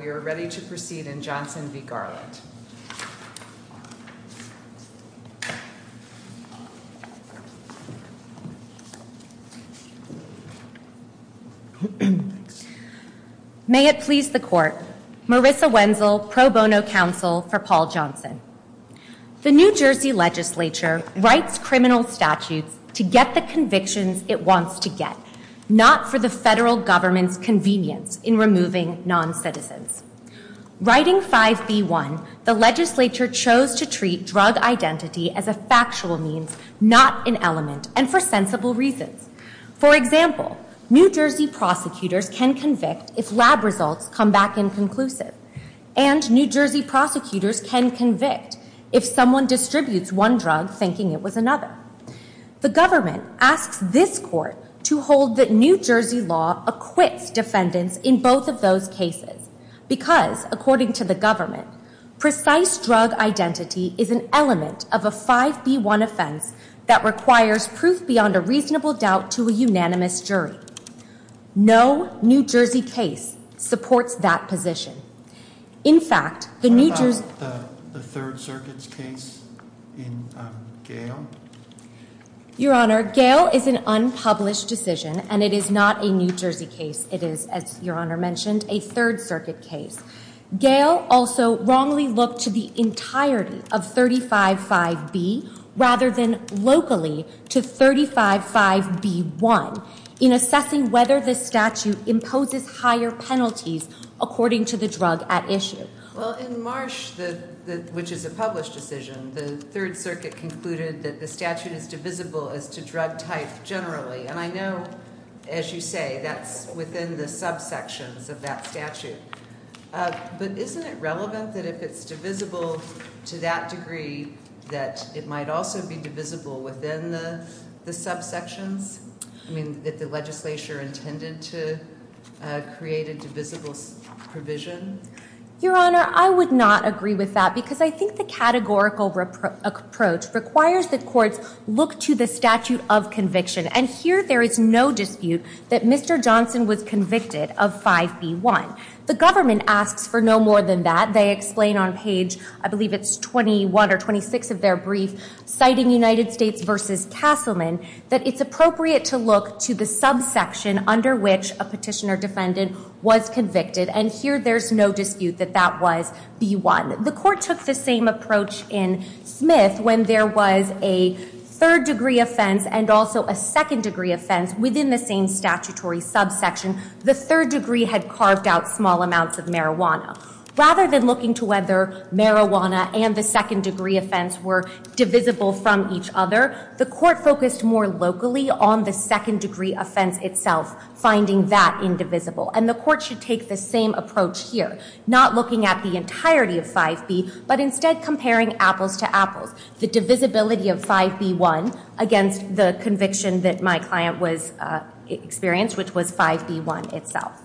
We are ready to proceed in Johnson v. Garland. May it please the court, Marissa Wenzel, pro bono counsel for Paul Johnson. The New Jersey legislature writes criminal statutes to get the convictions it wants to get, not for the federal government's convenience in removing non-citizens. Writing 5b1, the legislature chose to treat drug identity as a factual means, not an element, and for sensible reasons. For example, New Jersey prosecutors can convict if lab results come back inconclusive, and New Jersey prosecutors can convict if someone distributes one drug thinking it was another. The government asks this court to hold that New Jersey law acquits defendants in both of those cases, because, according to the government, precise drug identity is an element of a 5b1 offense that requires proof beyond a reasonable doubt to a unanimous jury. No New Jersey case supports that position. In fact, the New Jersey... What about the Third Circuit's case in Gale? Your Honor, Gale is an unpublished decision, and it is not a New Jersey case. It is, as Your Honor mentioned, a Third Circuit case. Gale also wrongly looked to the entirety of 35.5b rather than locally to 35.5b1 in assessing whether the statute imposes higher penalties according to the drug at issue. Well, in Marsh, which is a published decision, the Third Circuit concluded that the statute is divisible as to drug type generally, and I know, as you say, that's within the subsections of that statute, but isn't it relevant that if it's divisible to that degree that it might also be divisible within the subsections? I mean, that the legislature intended to create a divisible provision? Your Honor, I would not agree with that because I think the categorical approach requires that courts look to the statute of conviction, and here there is no dispute that Mr. Johnson was convicted of 5b1. The government asks for no more than that. They explain on page, I believe it's 21 or 26 of their brief, citing United States v. Castleman, that it's appropriate to look to the subsection under which a petitioner defendant was convicted, and here there's no dispute that that was b1. The court took the same approach in Smith when there was a third degree offense and also a second degree offense within the same statutory subsection. The third degree had carved out small amounts of marijuana. Rather than looking to whether marijuana and the second degree offense were divisible from each other, the court focused more locally on the second degree offense itself, finding that indivisible, and the court should take the same approach here, not looking at the entirety of 5b, but instead comparing apples to apples, the divisibility of 5b1 against the conviction that my client experienced, which was 5b1 itself.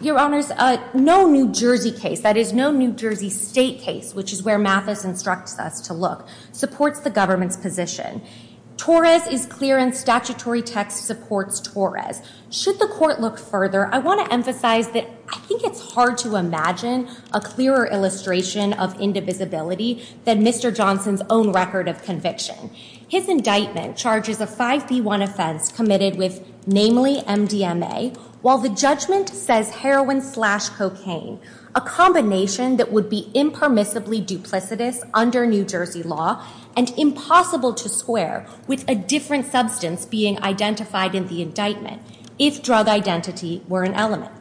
Your Honors, no New Jersey case, that is no New Jersey state case, which is where Mathis instructs us to look, supports the government's position. Torres is clear in statutory text, supports Torres. Should the court look further, I want to emphasize that I think it's hard to imagine a clearer illustration of indivisibility than Mr. Johnson's own record of conviction. His indictment charges a 5b1 offense committed with, namely, MDMA, while the judgment says heroin slash cocaine, a combination that would be impermissibly duplicitous under New Jersey law, and impossible to square with a different substance being identified in the indictment, if drug identity were an element.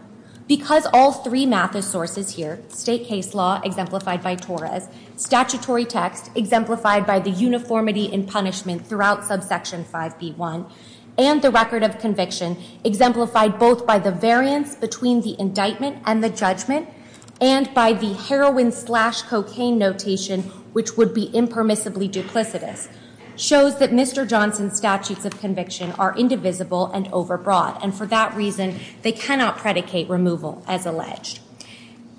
Because all three Mathis sources here, state case law, exemplified by Torres, statutory text, exemplified by the uniformity in punishment throughout subsection 5b1, and the record of conviction, exemplified both by the variance between the indictment and the judgment, and by the heroin slash cocaine notation, which would be impermissibly duplicitous, shows that Mr. Johnson's statutes of conviction are indivisible and overbroad. And for that reason, they cannot predicate removal, as alleged.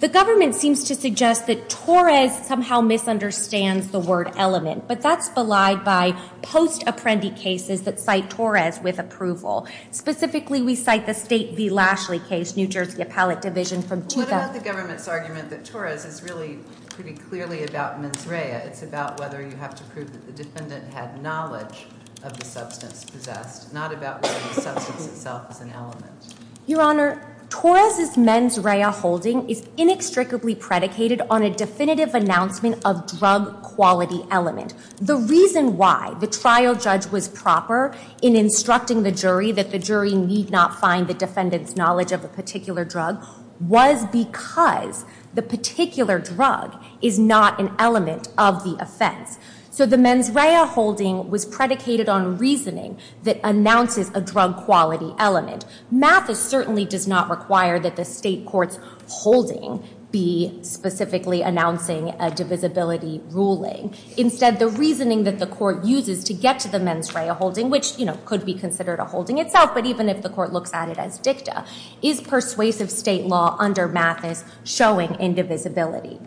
The government seems to suggest that Torres somehow misunderstands the word element. But that's belied by post-apprendee cases that cite Torres with approval. Specifically, we cite the State v. Lashley case, New Jersey Appellate Division from 2000- What about the government's argument that Torres is really pretty clearly about mens rea? It's about whether you have to prove that the defendant had knowledge of the substance possessed, not about whether the substance itself is an element. Your Honor, Torres' mens rea holding is inextricably predicated on a definitive announcement of drug quality element. The reason why the trial judge was proper in instructing the jury that the jury need not find the defendant's knowledge of a particular drug was because the particular drug is not an element of the offense. So the mens rea holding was predicated on reasoning that announces a drug quality element. Mathis certainly does not require that the state court's holding be specifically announcing a divisibility ruling. Instead, the reasoning that the court uses to get to the mens rea holding, which could be considered a holding itself, but even if the court looks at it as dicta, is persuasive state law under Mathis showing indivisibility.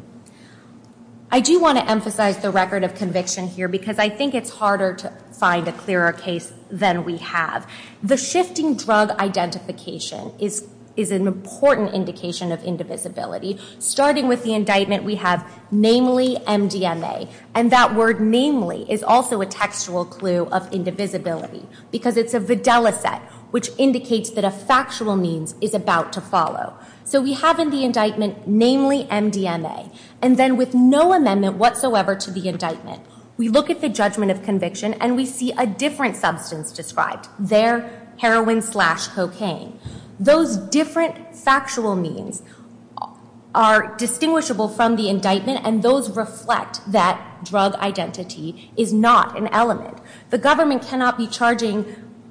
I do want to emphasize the record of conviction here because I think it's harder to find a clearer case than we have. The shifting drug identification is an important indication of indivisibility. Starting with the indictment, we have namely MDMA. And that word namely is also a textual clue of indivisibility because it's a videla set, which indicates that a factual means is about to follow. So we have in the indictment namely MDMA. And then with no amendment whatsoever to the indictment, we look at the judgment of conviction and we see a different substance described there, heroin slash cocaine. Those different factual means are distinguishable from the indictment and those reflect that drug identity is not an element. The government cannot be charging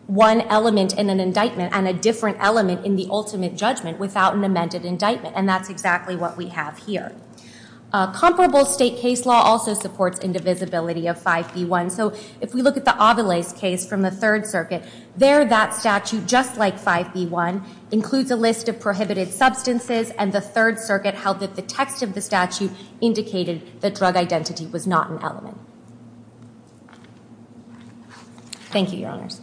one element in an indictment and a different element in the ultimate judgment without an amended indictment. And that's exactly what we have here. Comparable state case law also supports indivisibility of 5B1. So if we look at the Avila's case from the Third Circuit, there that statute, just like 5B1, includes a list of prohibited substances. And the Third Circuit held that the text of the statute indicated that drug identity was not an element. Thank you, Your Honors.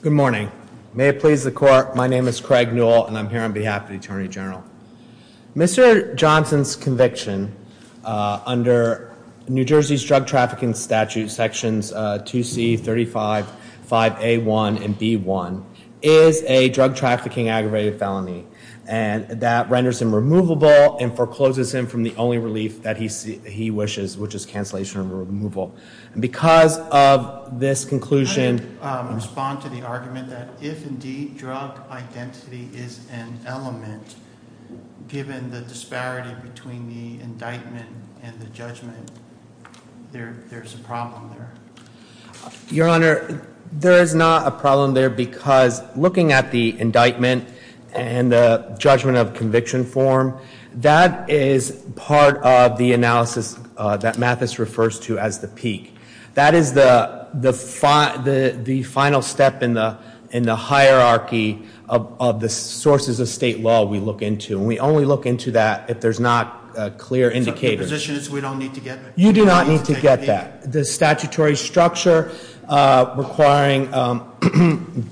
Good morning. May it please the court. My name is Craig Newell, and I'm here on behalf of the Attorney General. Mr. Johnson's conviction under New Jersey's drug trafficking statute, sections 2C35, 5A1, and B1, is a drug trafficking aggravated felony. And that renders him removable and forecloses him from the only relief that he wishes, which is cancellation or removal. And because of this conclusion- I would respond to the argument that if indeed drug identity is an element, given the disparity between the indictment and the judgment, there's a problem there. Your Honor, there is not a problem there because looking at the indictment and the judgment of conviction form, that is part of the analysis that Mathis refers to as the peak. That is the final step in the hierarchy of the sources of state law we look into. And we only look into that if there's not clear indicators. The position is we don't need to get that. You do not need to get that. The statutory structure requiring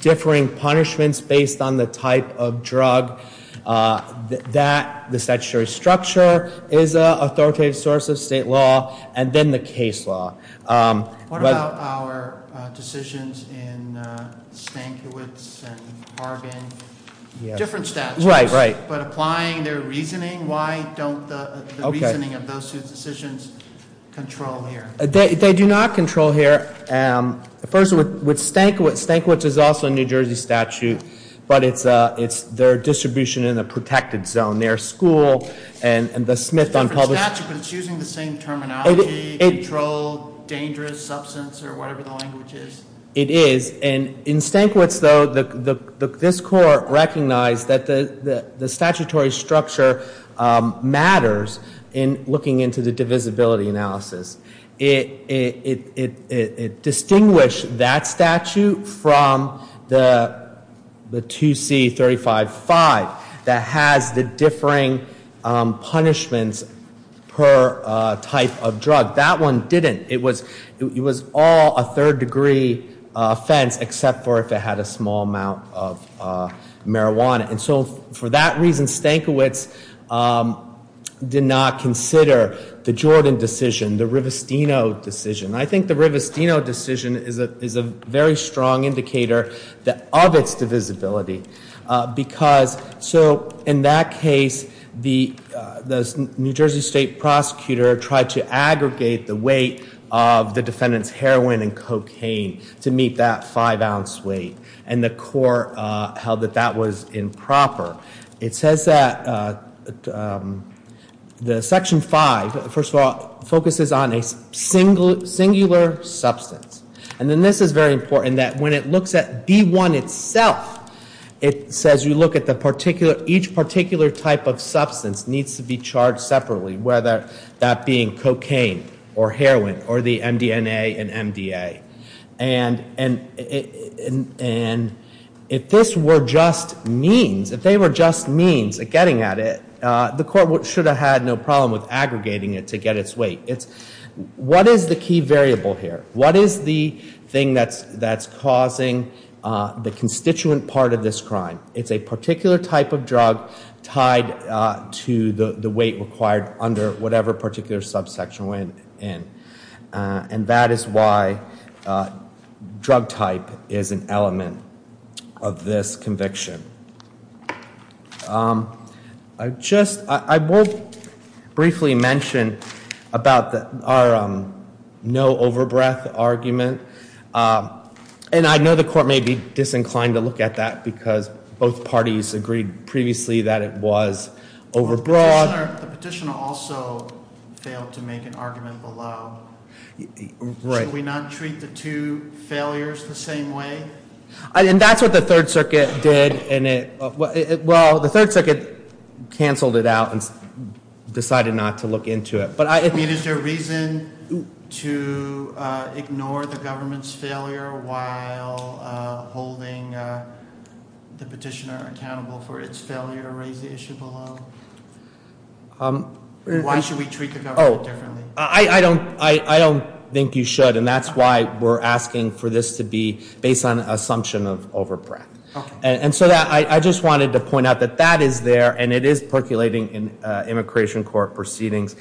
differing punishments based on the type of drug. That, the statutory structure, is an authoritative source of state law, and then the case law. What about our decisions in Stankiewicz and Harbin? Different statutes. Right, right. But applying their reasoning, why don't the reasoning of those two decisions control here? They do not control here. First, with Stankiewicz, Stankiewicz is also a New Jersey statute, but it's their distribution in a protected zone. Their school and the Smith- It's a different statute, but it's using the same terminology, control, dangerous, substance, or whatever the language is. It is, and in Stankiewicz, though, this court recognized that the statutory structure matters in looking into the divisibility analysis. It distinguished that statute from the 2C35-5 that has the differing punishments per type of drug. That one didn't. It was all a third degree offense, except for if it had a small amount of marijuana. And so, for that reason, Stankiewicz did not consider the Jordan decision, the Rivestino decision. I think the Rivestino decision is a very strong indicator of its divisibility. Because, so in that case, the New Jersey state prosecutor tried to aggregate the weight of the defendant's heroin and cocaine to meet that five ounce weight. And the court held that that was improper. It says that the section five, first of all, focuses on a singular substance. And then this is very important, that when it looks at D1 itself, it says you look at each particular type of substance needs to be charged separately. Whether that being cocaine, or heroin, or the MDNA and MDA. And if this were just means, if they were just means at getting at it, the court should have had no problem with aggregating it to get its weight. What is the key variable here? What is the thing that's causing the constituent part of this crime? It's a particular type of drug tied to the weight required under whatever particular subsection went in. And that is why drug type is an element of this conviction. I just, I will briefly mention about our no over breath argument. And I know the court may be disinclined to look at that because both parties agreed previously that it was over broad. The petitioner also failed to make an argument below. Should we not treat the two failures the same way? And that's what the third circuit did. And it, well, the third circuit canceled it out and decided not to look into it. But I- Is there reason to ignore the government's failure while holding the petitioner accountable for its failure to raise the issue below? Why should we treat the government differently? I don't think you should, and that's why we're asking for this to be based on assumption of over breath. And so I just wanted to point out that that is there, and it is percolating in immigration court proceedings.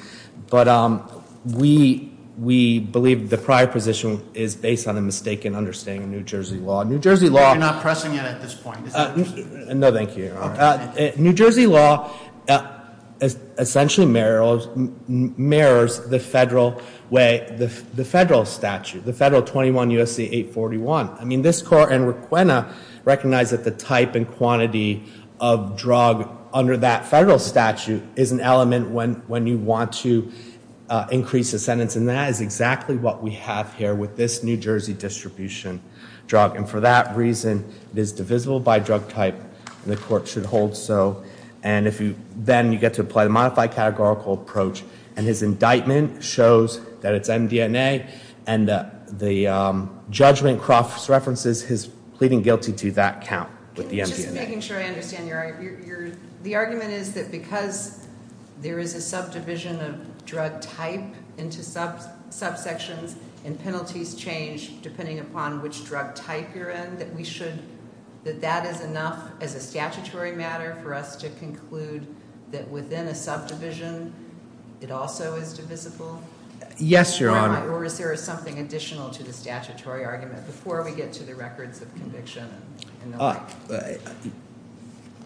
But we believe the prior position is based on a mistaken understanding of New Jersey law. New Jersey law- You're not pressing it at this point. No, thank you. New Jersey law essentially mirrors the federal way, the federal statute, the federal 21 U.S.C. 841. I mean, this court and Requena recognize that the type and quantity of drug under that federal statute is an element when you want to increase a sentence. And that is exactly what we have here with this New Jersey distribution drug. And for that reason, it is divisible by drug type, and the court should hold so. And then you get to apply the modified categorical approach. And his indictment shows that it's MDNA, and the judgment cross-references his pleading guilty to that count with the MDNA. Just making sure I understand your argument. The argument is that because there is a subdivision of drug type into subsections, and penalties change depending upon which drug type you're in, that we should, that that is enough as a statutory matter for us to conclude that within a subdivision, it also is divisible? Yes, Your Honor. Or is there something additional to the statutory argument before we get to the records of conviction?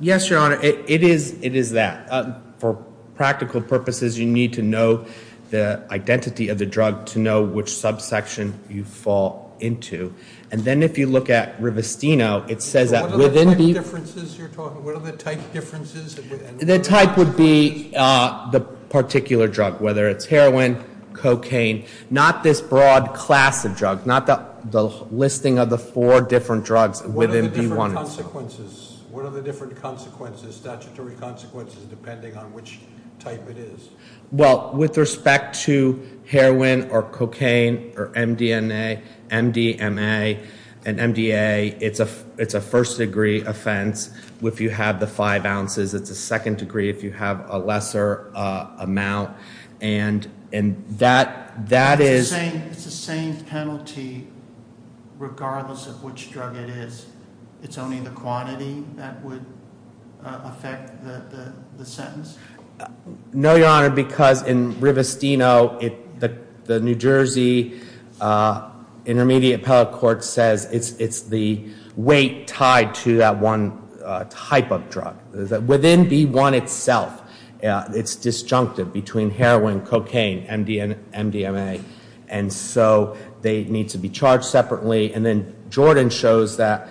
Yes, Your Honor, it is that. For practical purposes, you need to know the identity of the drug to know which subsection you fall into. And then if you look at Rivestino, it says that within the- So what are the type differences you're talking, what are the type differences within the- The type would be the particular drug, whether it's heroin, cocaine. Not this broad class of drug, not the listing of the four different drugs within B1. What are the consequences? What are the different consequences, statutory consequences, depending on which type it is? Well, with respect to heroin or cocaine or MDNA, MDMA, and MDA, it's a first degree offense if you have the five ounces. It's a second degree if you have a lesser amount, and that is- I think it's the same penalty regardless of which drug it is. It's only the quantity that would affect the sentence? No, Your Honor, because in Rivestino, the New Jersey Intermediate Appellate Court says it's the weight tied to that one type of drug. Within B1 itself, it's disjunctive between heroin, cocaine, and MDMA, and so they need to be charged separately. And then Jordan shows that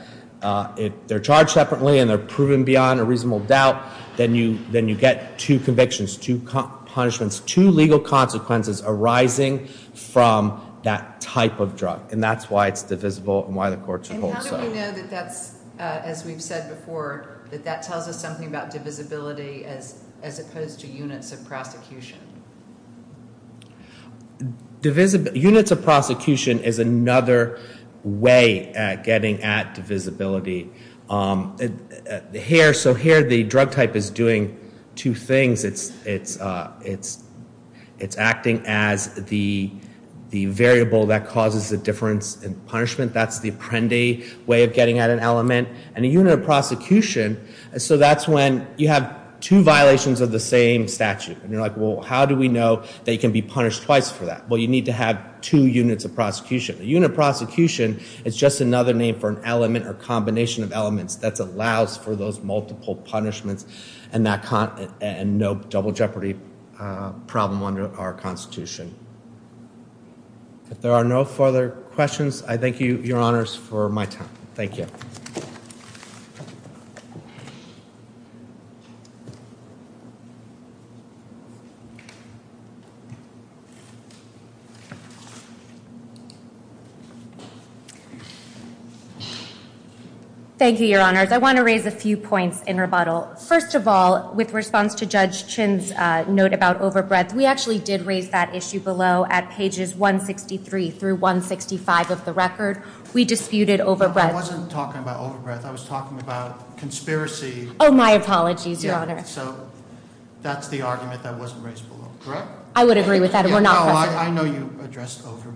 if they're charged separately and they're proven beyond a reasonable doubt, then you get two convictions, two punishments, two legal consequences arising from that type of drug. And that's why it's divisible and why the courts hold so. And how do we know that that's, as we've said before, that that tells us something about divisibility as opposed to units of prosecution? Units of prosecution is another way at getting at divisibility. Here, so here the drug type is doing two things. It's acting as the variable that causes the difference in punishment. That's the apprende way of getting at an element. And a unit of prosecution, so that's when you have two violations of the same statute. And you're like, well, how do we know that you can be punished twice for that? Well, you need to have two units of prosecution. A unit of prosecution is just another name for an element or combination of elements that allows for those multiple punishments and no double jeopardy problem under our Constitution. If there are no further questions, I thank you, Your Honors, for my time. Thank you. Thank you, Your Honors. I want to raise a few points in rebuttal. First of all, with response to Judge Chin's note about overbreadth, we actually did raise that issue below at pages 163 through 165 of the record. We disputed overbreadth. I wasn't talking about overbreadth. I was talking about conspiracy. Oh, my apologies, Your Honor. So that's the argument that wasn't raised below, correct? I would agree with that. We're not- I know you addressed overbreadth.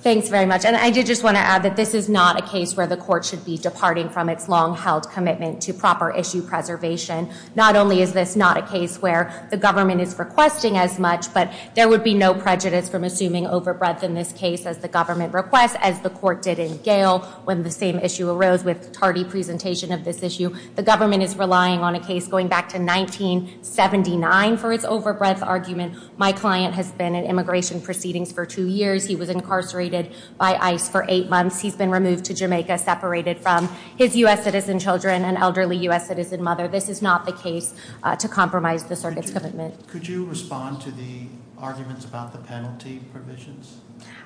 Thanks very much. And I did just want to add that this is not a case where the court should be departing from its long-held commitment to proper issue preservation. Not only is this not a case where the government is requesting as much, but there would be no prejudice from assuming overbreadth in this case as the government requests, as the court did in Gale when the same issue arose with Tardy's presentation of this issue. The government is relying on a case going back to 1979 for its overbreadth argument. My client has been in immigration proceedings for two years. He was incarcerated by ICE for eight months. He's been removed to Jamaica, separated from his U.S. citizen children and elderly U.S. citizen mother. This is not the case to compromise the circuit's commitment. Could you respond to the arguments about the penalty provisions?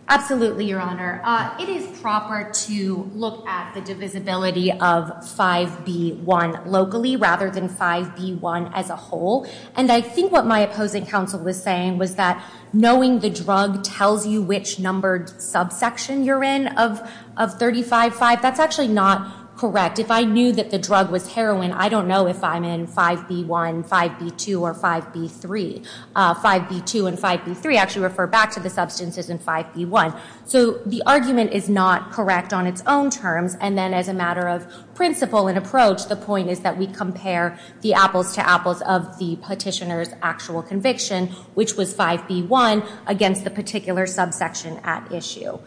Absolutely, Your Honor. It is proper to look at the divisibility of 5B1 locally rather than 5B1 as a whole. And I think what my opposing counsel was saying was that knowing the drug tells you which numbered subsection you're in of 35-5, that's actually not correct. If I knew that the drug was heroin, I don't know if I'm in 5B1, 5B2, or 5B3. 5B2 and 5B3 actually refer back to the substances in 5B1. So the argument is not correct on its own terms. And then as a matter of principle and approach, the point is that we compare the apples to apples of the petitioner's actual conviction, which was 5B1, against the particular subsection at issue.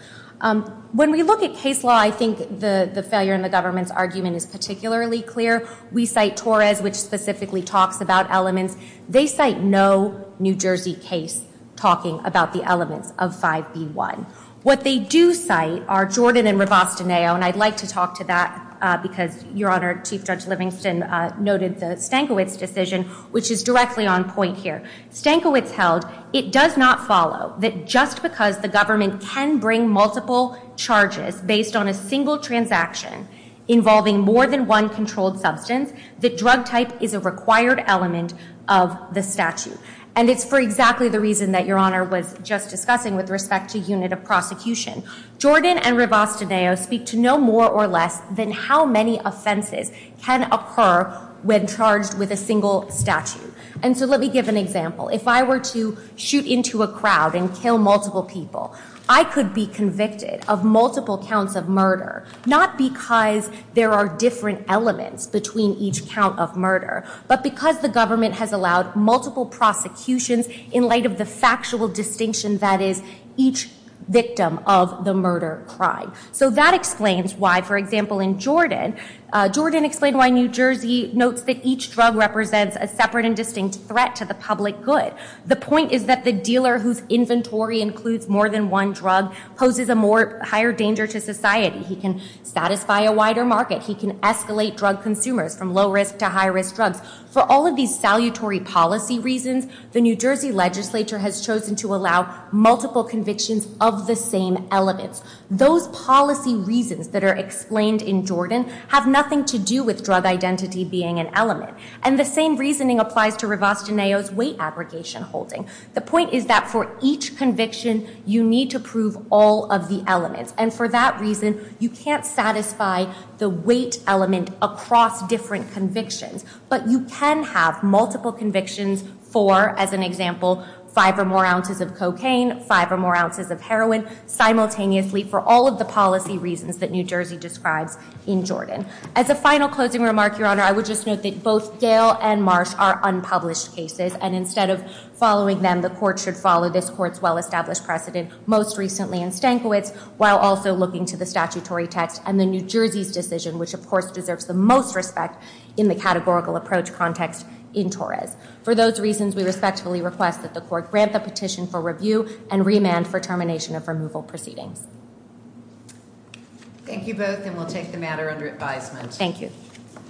When we look at case law, I think the failure in the government's argument is particularly clear. We cite Torres, which specifically talks about elements. They cite no New Jersey case talking about the elements of 5B1. What they do cite are Jordan and Rivastoneo, and I'd like to talk to that because, Your Honor, Chief Judge Livingston noted the Stankiewicz decision, which is directly on point here. Stankiewicz held, it does not follow that just because the government can bring multiple charges based on a single transaction involving more than one controlled substance, the drug type is a required element of the statute. And it's for exactly the reason that Your Honor was just discussing with respect to unit of prosecution. Jordan and Rivastoneo speak to no more or less than how many offenses can occur when charged with a single statute. And so let me give an example. If I were to shoot into a crowd and kill multiple people, I could be convicted of multiple counts of murder not because there are different elements between each count of murder, but because the government has allowed multiple prosecutions in light of the factual distinction that is each victim of the murder crime. So that explains why, for example, in Jordan, Jordan explained why New Jersey notes that each drug represents a separate and distinct threat to the public good. The point is that the dealer whose inventory includes more than one drug poses a higher danger to society. He can satisfy a wider market. He can escalate drug consumers from low-risk to high-risk drugs. For all of these salutary policy reasons, the New Jersey legislature has chosen to allow multiple convictions of the same elements. Those policy reasons that are explained in Jordan have nothing to do with drug identity being an element. And the same reasoning applies to Rivastoneo's weight abrogation holding. The point is that for each conviction, you need to prove all of the elements. And for that reason, you can't satisfy the weight element across different convictions. But you can have multiple convictions for, as an example, five or more ounces of cocaine, five or more ounces of heroin, simultaneously for all of the policy reasons that New Jersey describes in Jordan. As a final closing remark, Your Honor, I would just note that both Gail and Marsh are unpublished cases. And instead of following them, the court should follow this court's well-established precedent, most recently in Stankiewicz, while also looking to the statutory text and the New Jersey's decision, which, of course, deserves the most respect in the categorical approach context in Torres. For those reasons, we respectfully request that the court grant the petition for review and remand for termination of removal proceedings. Thank you both, and we'll take the matter under advisement. Thank you.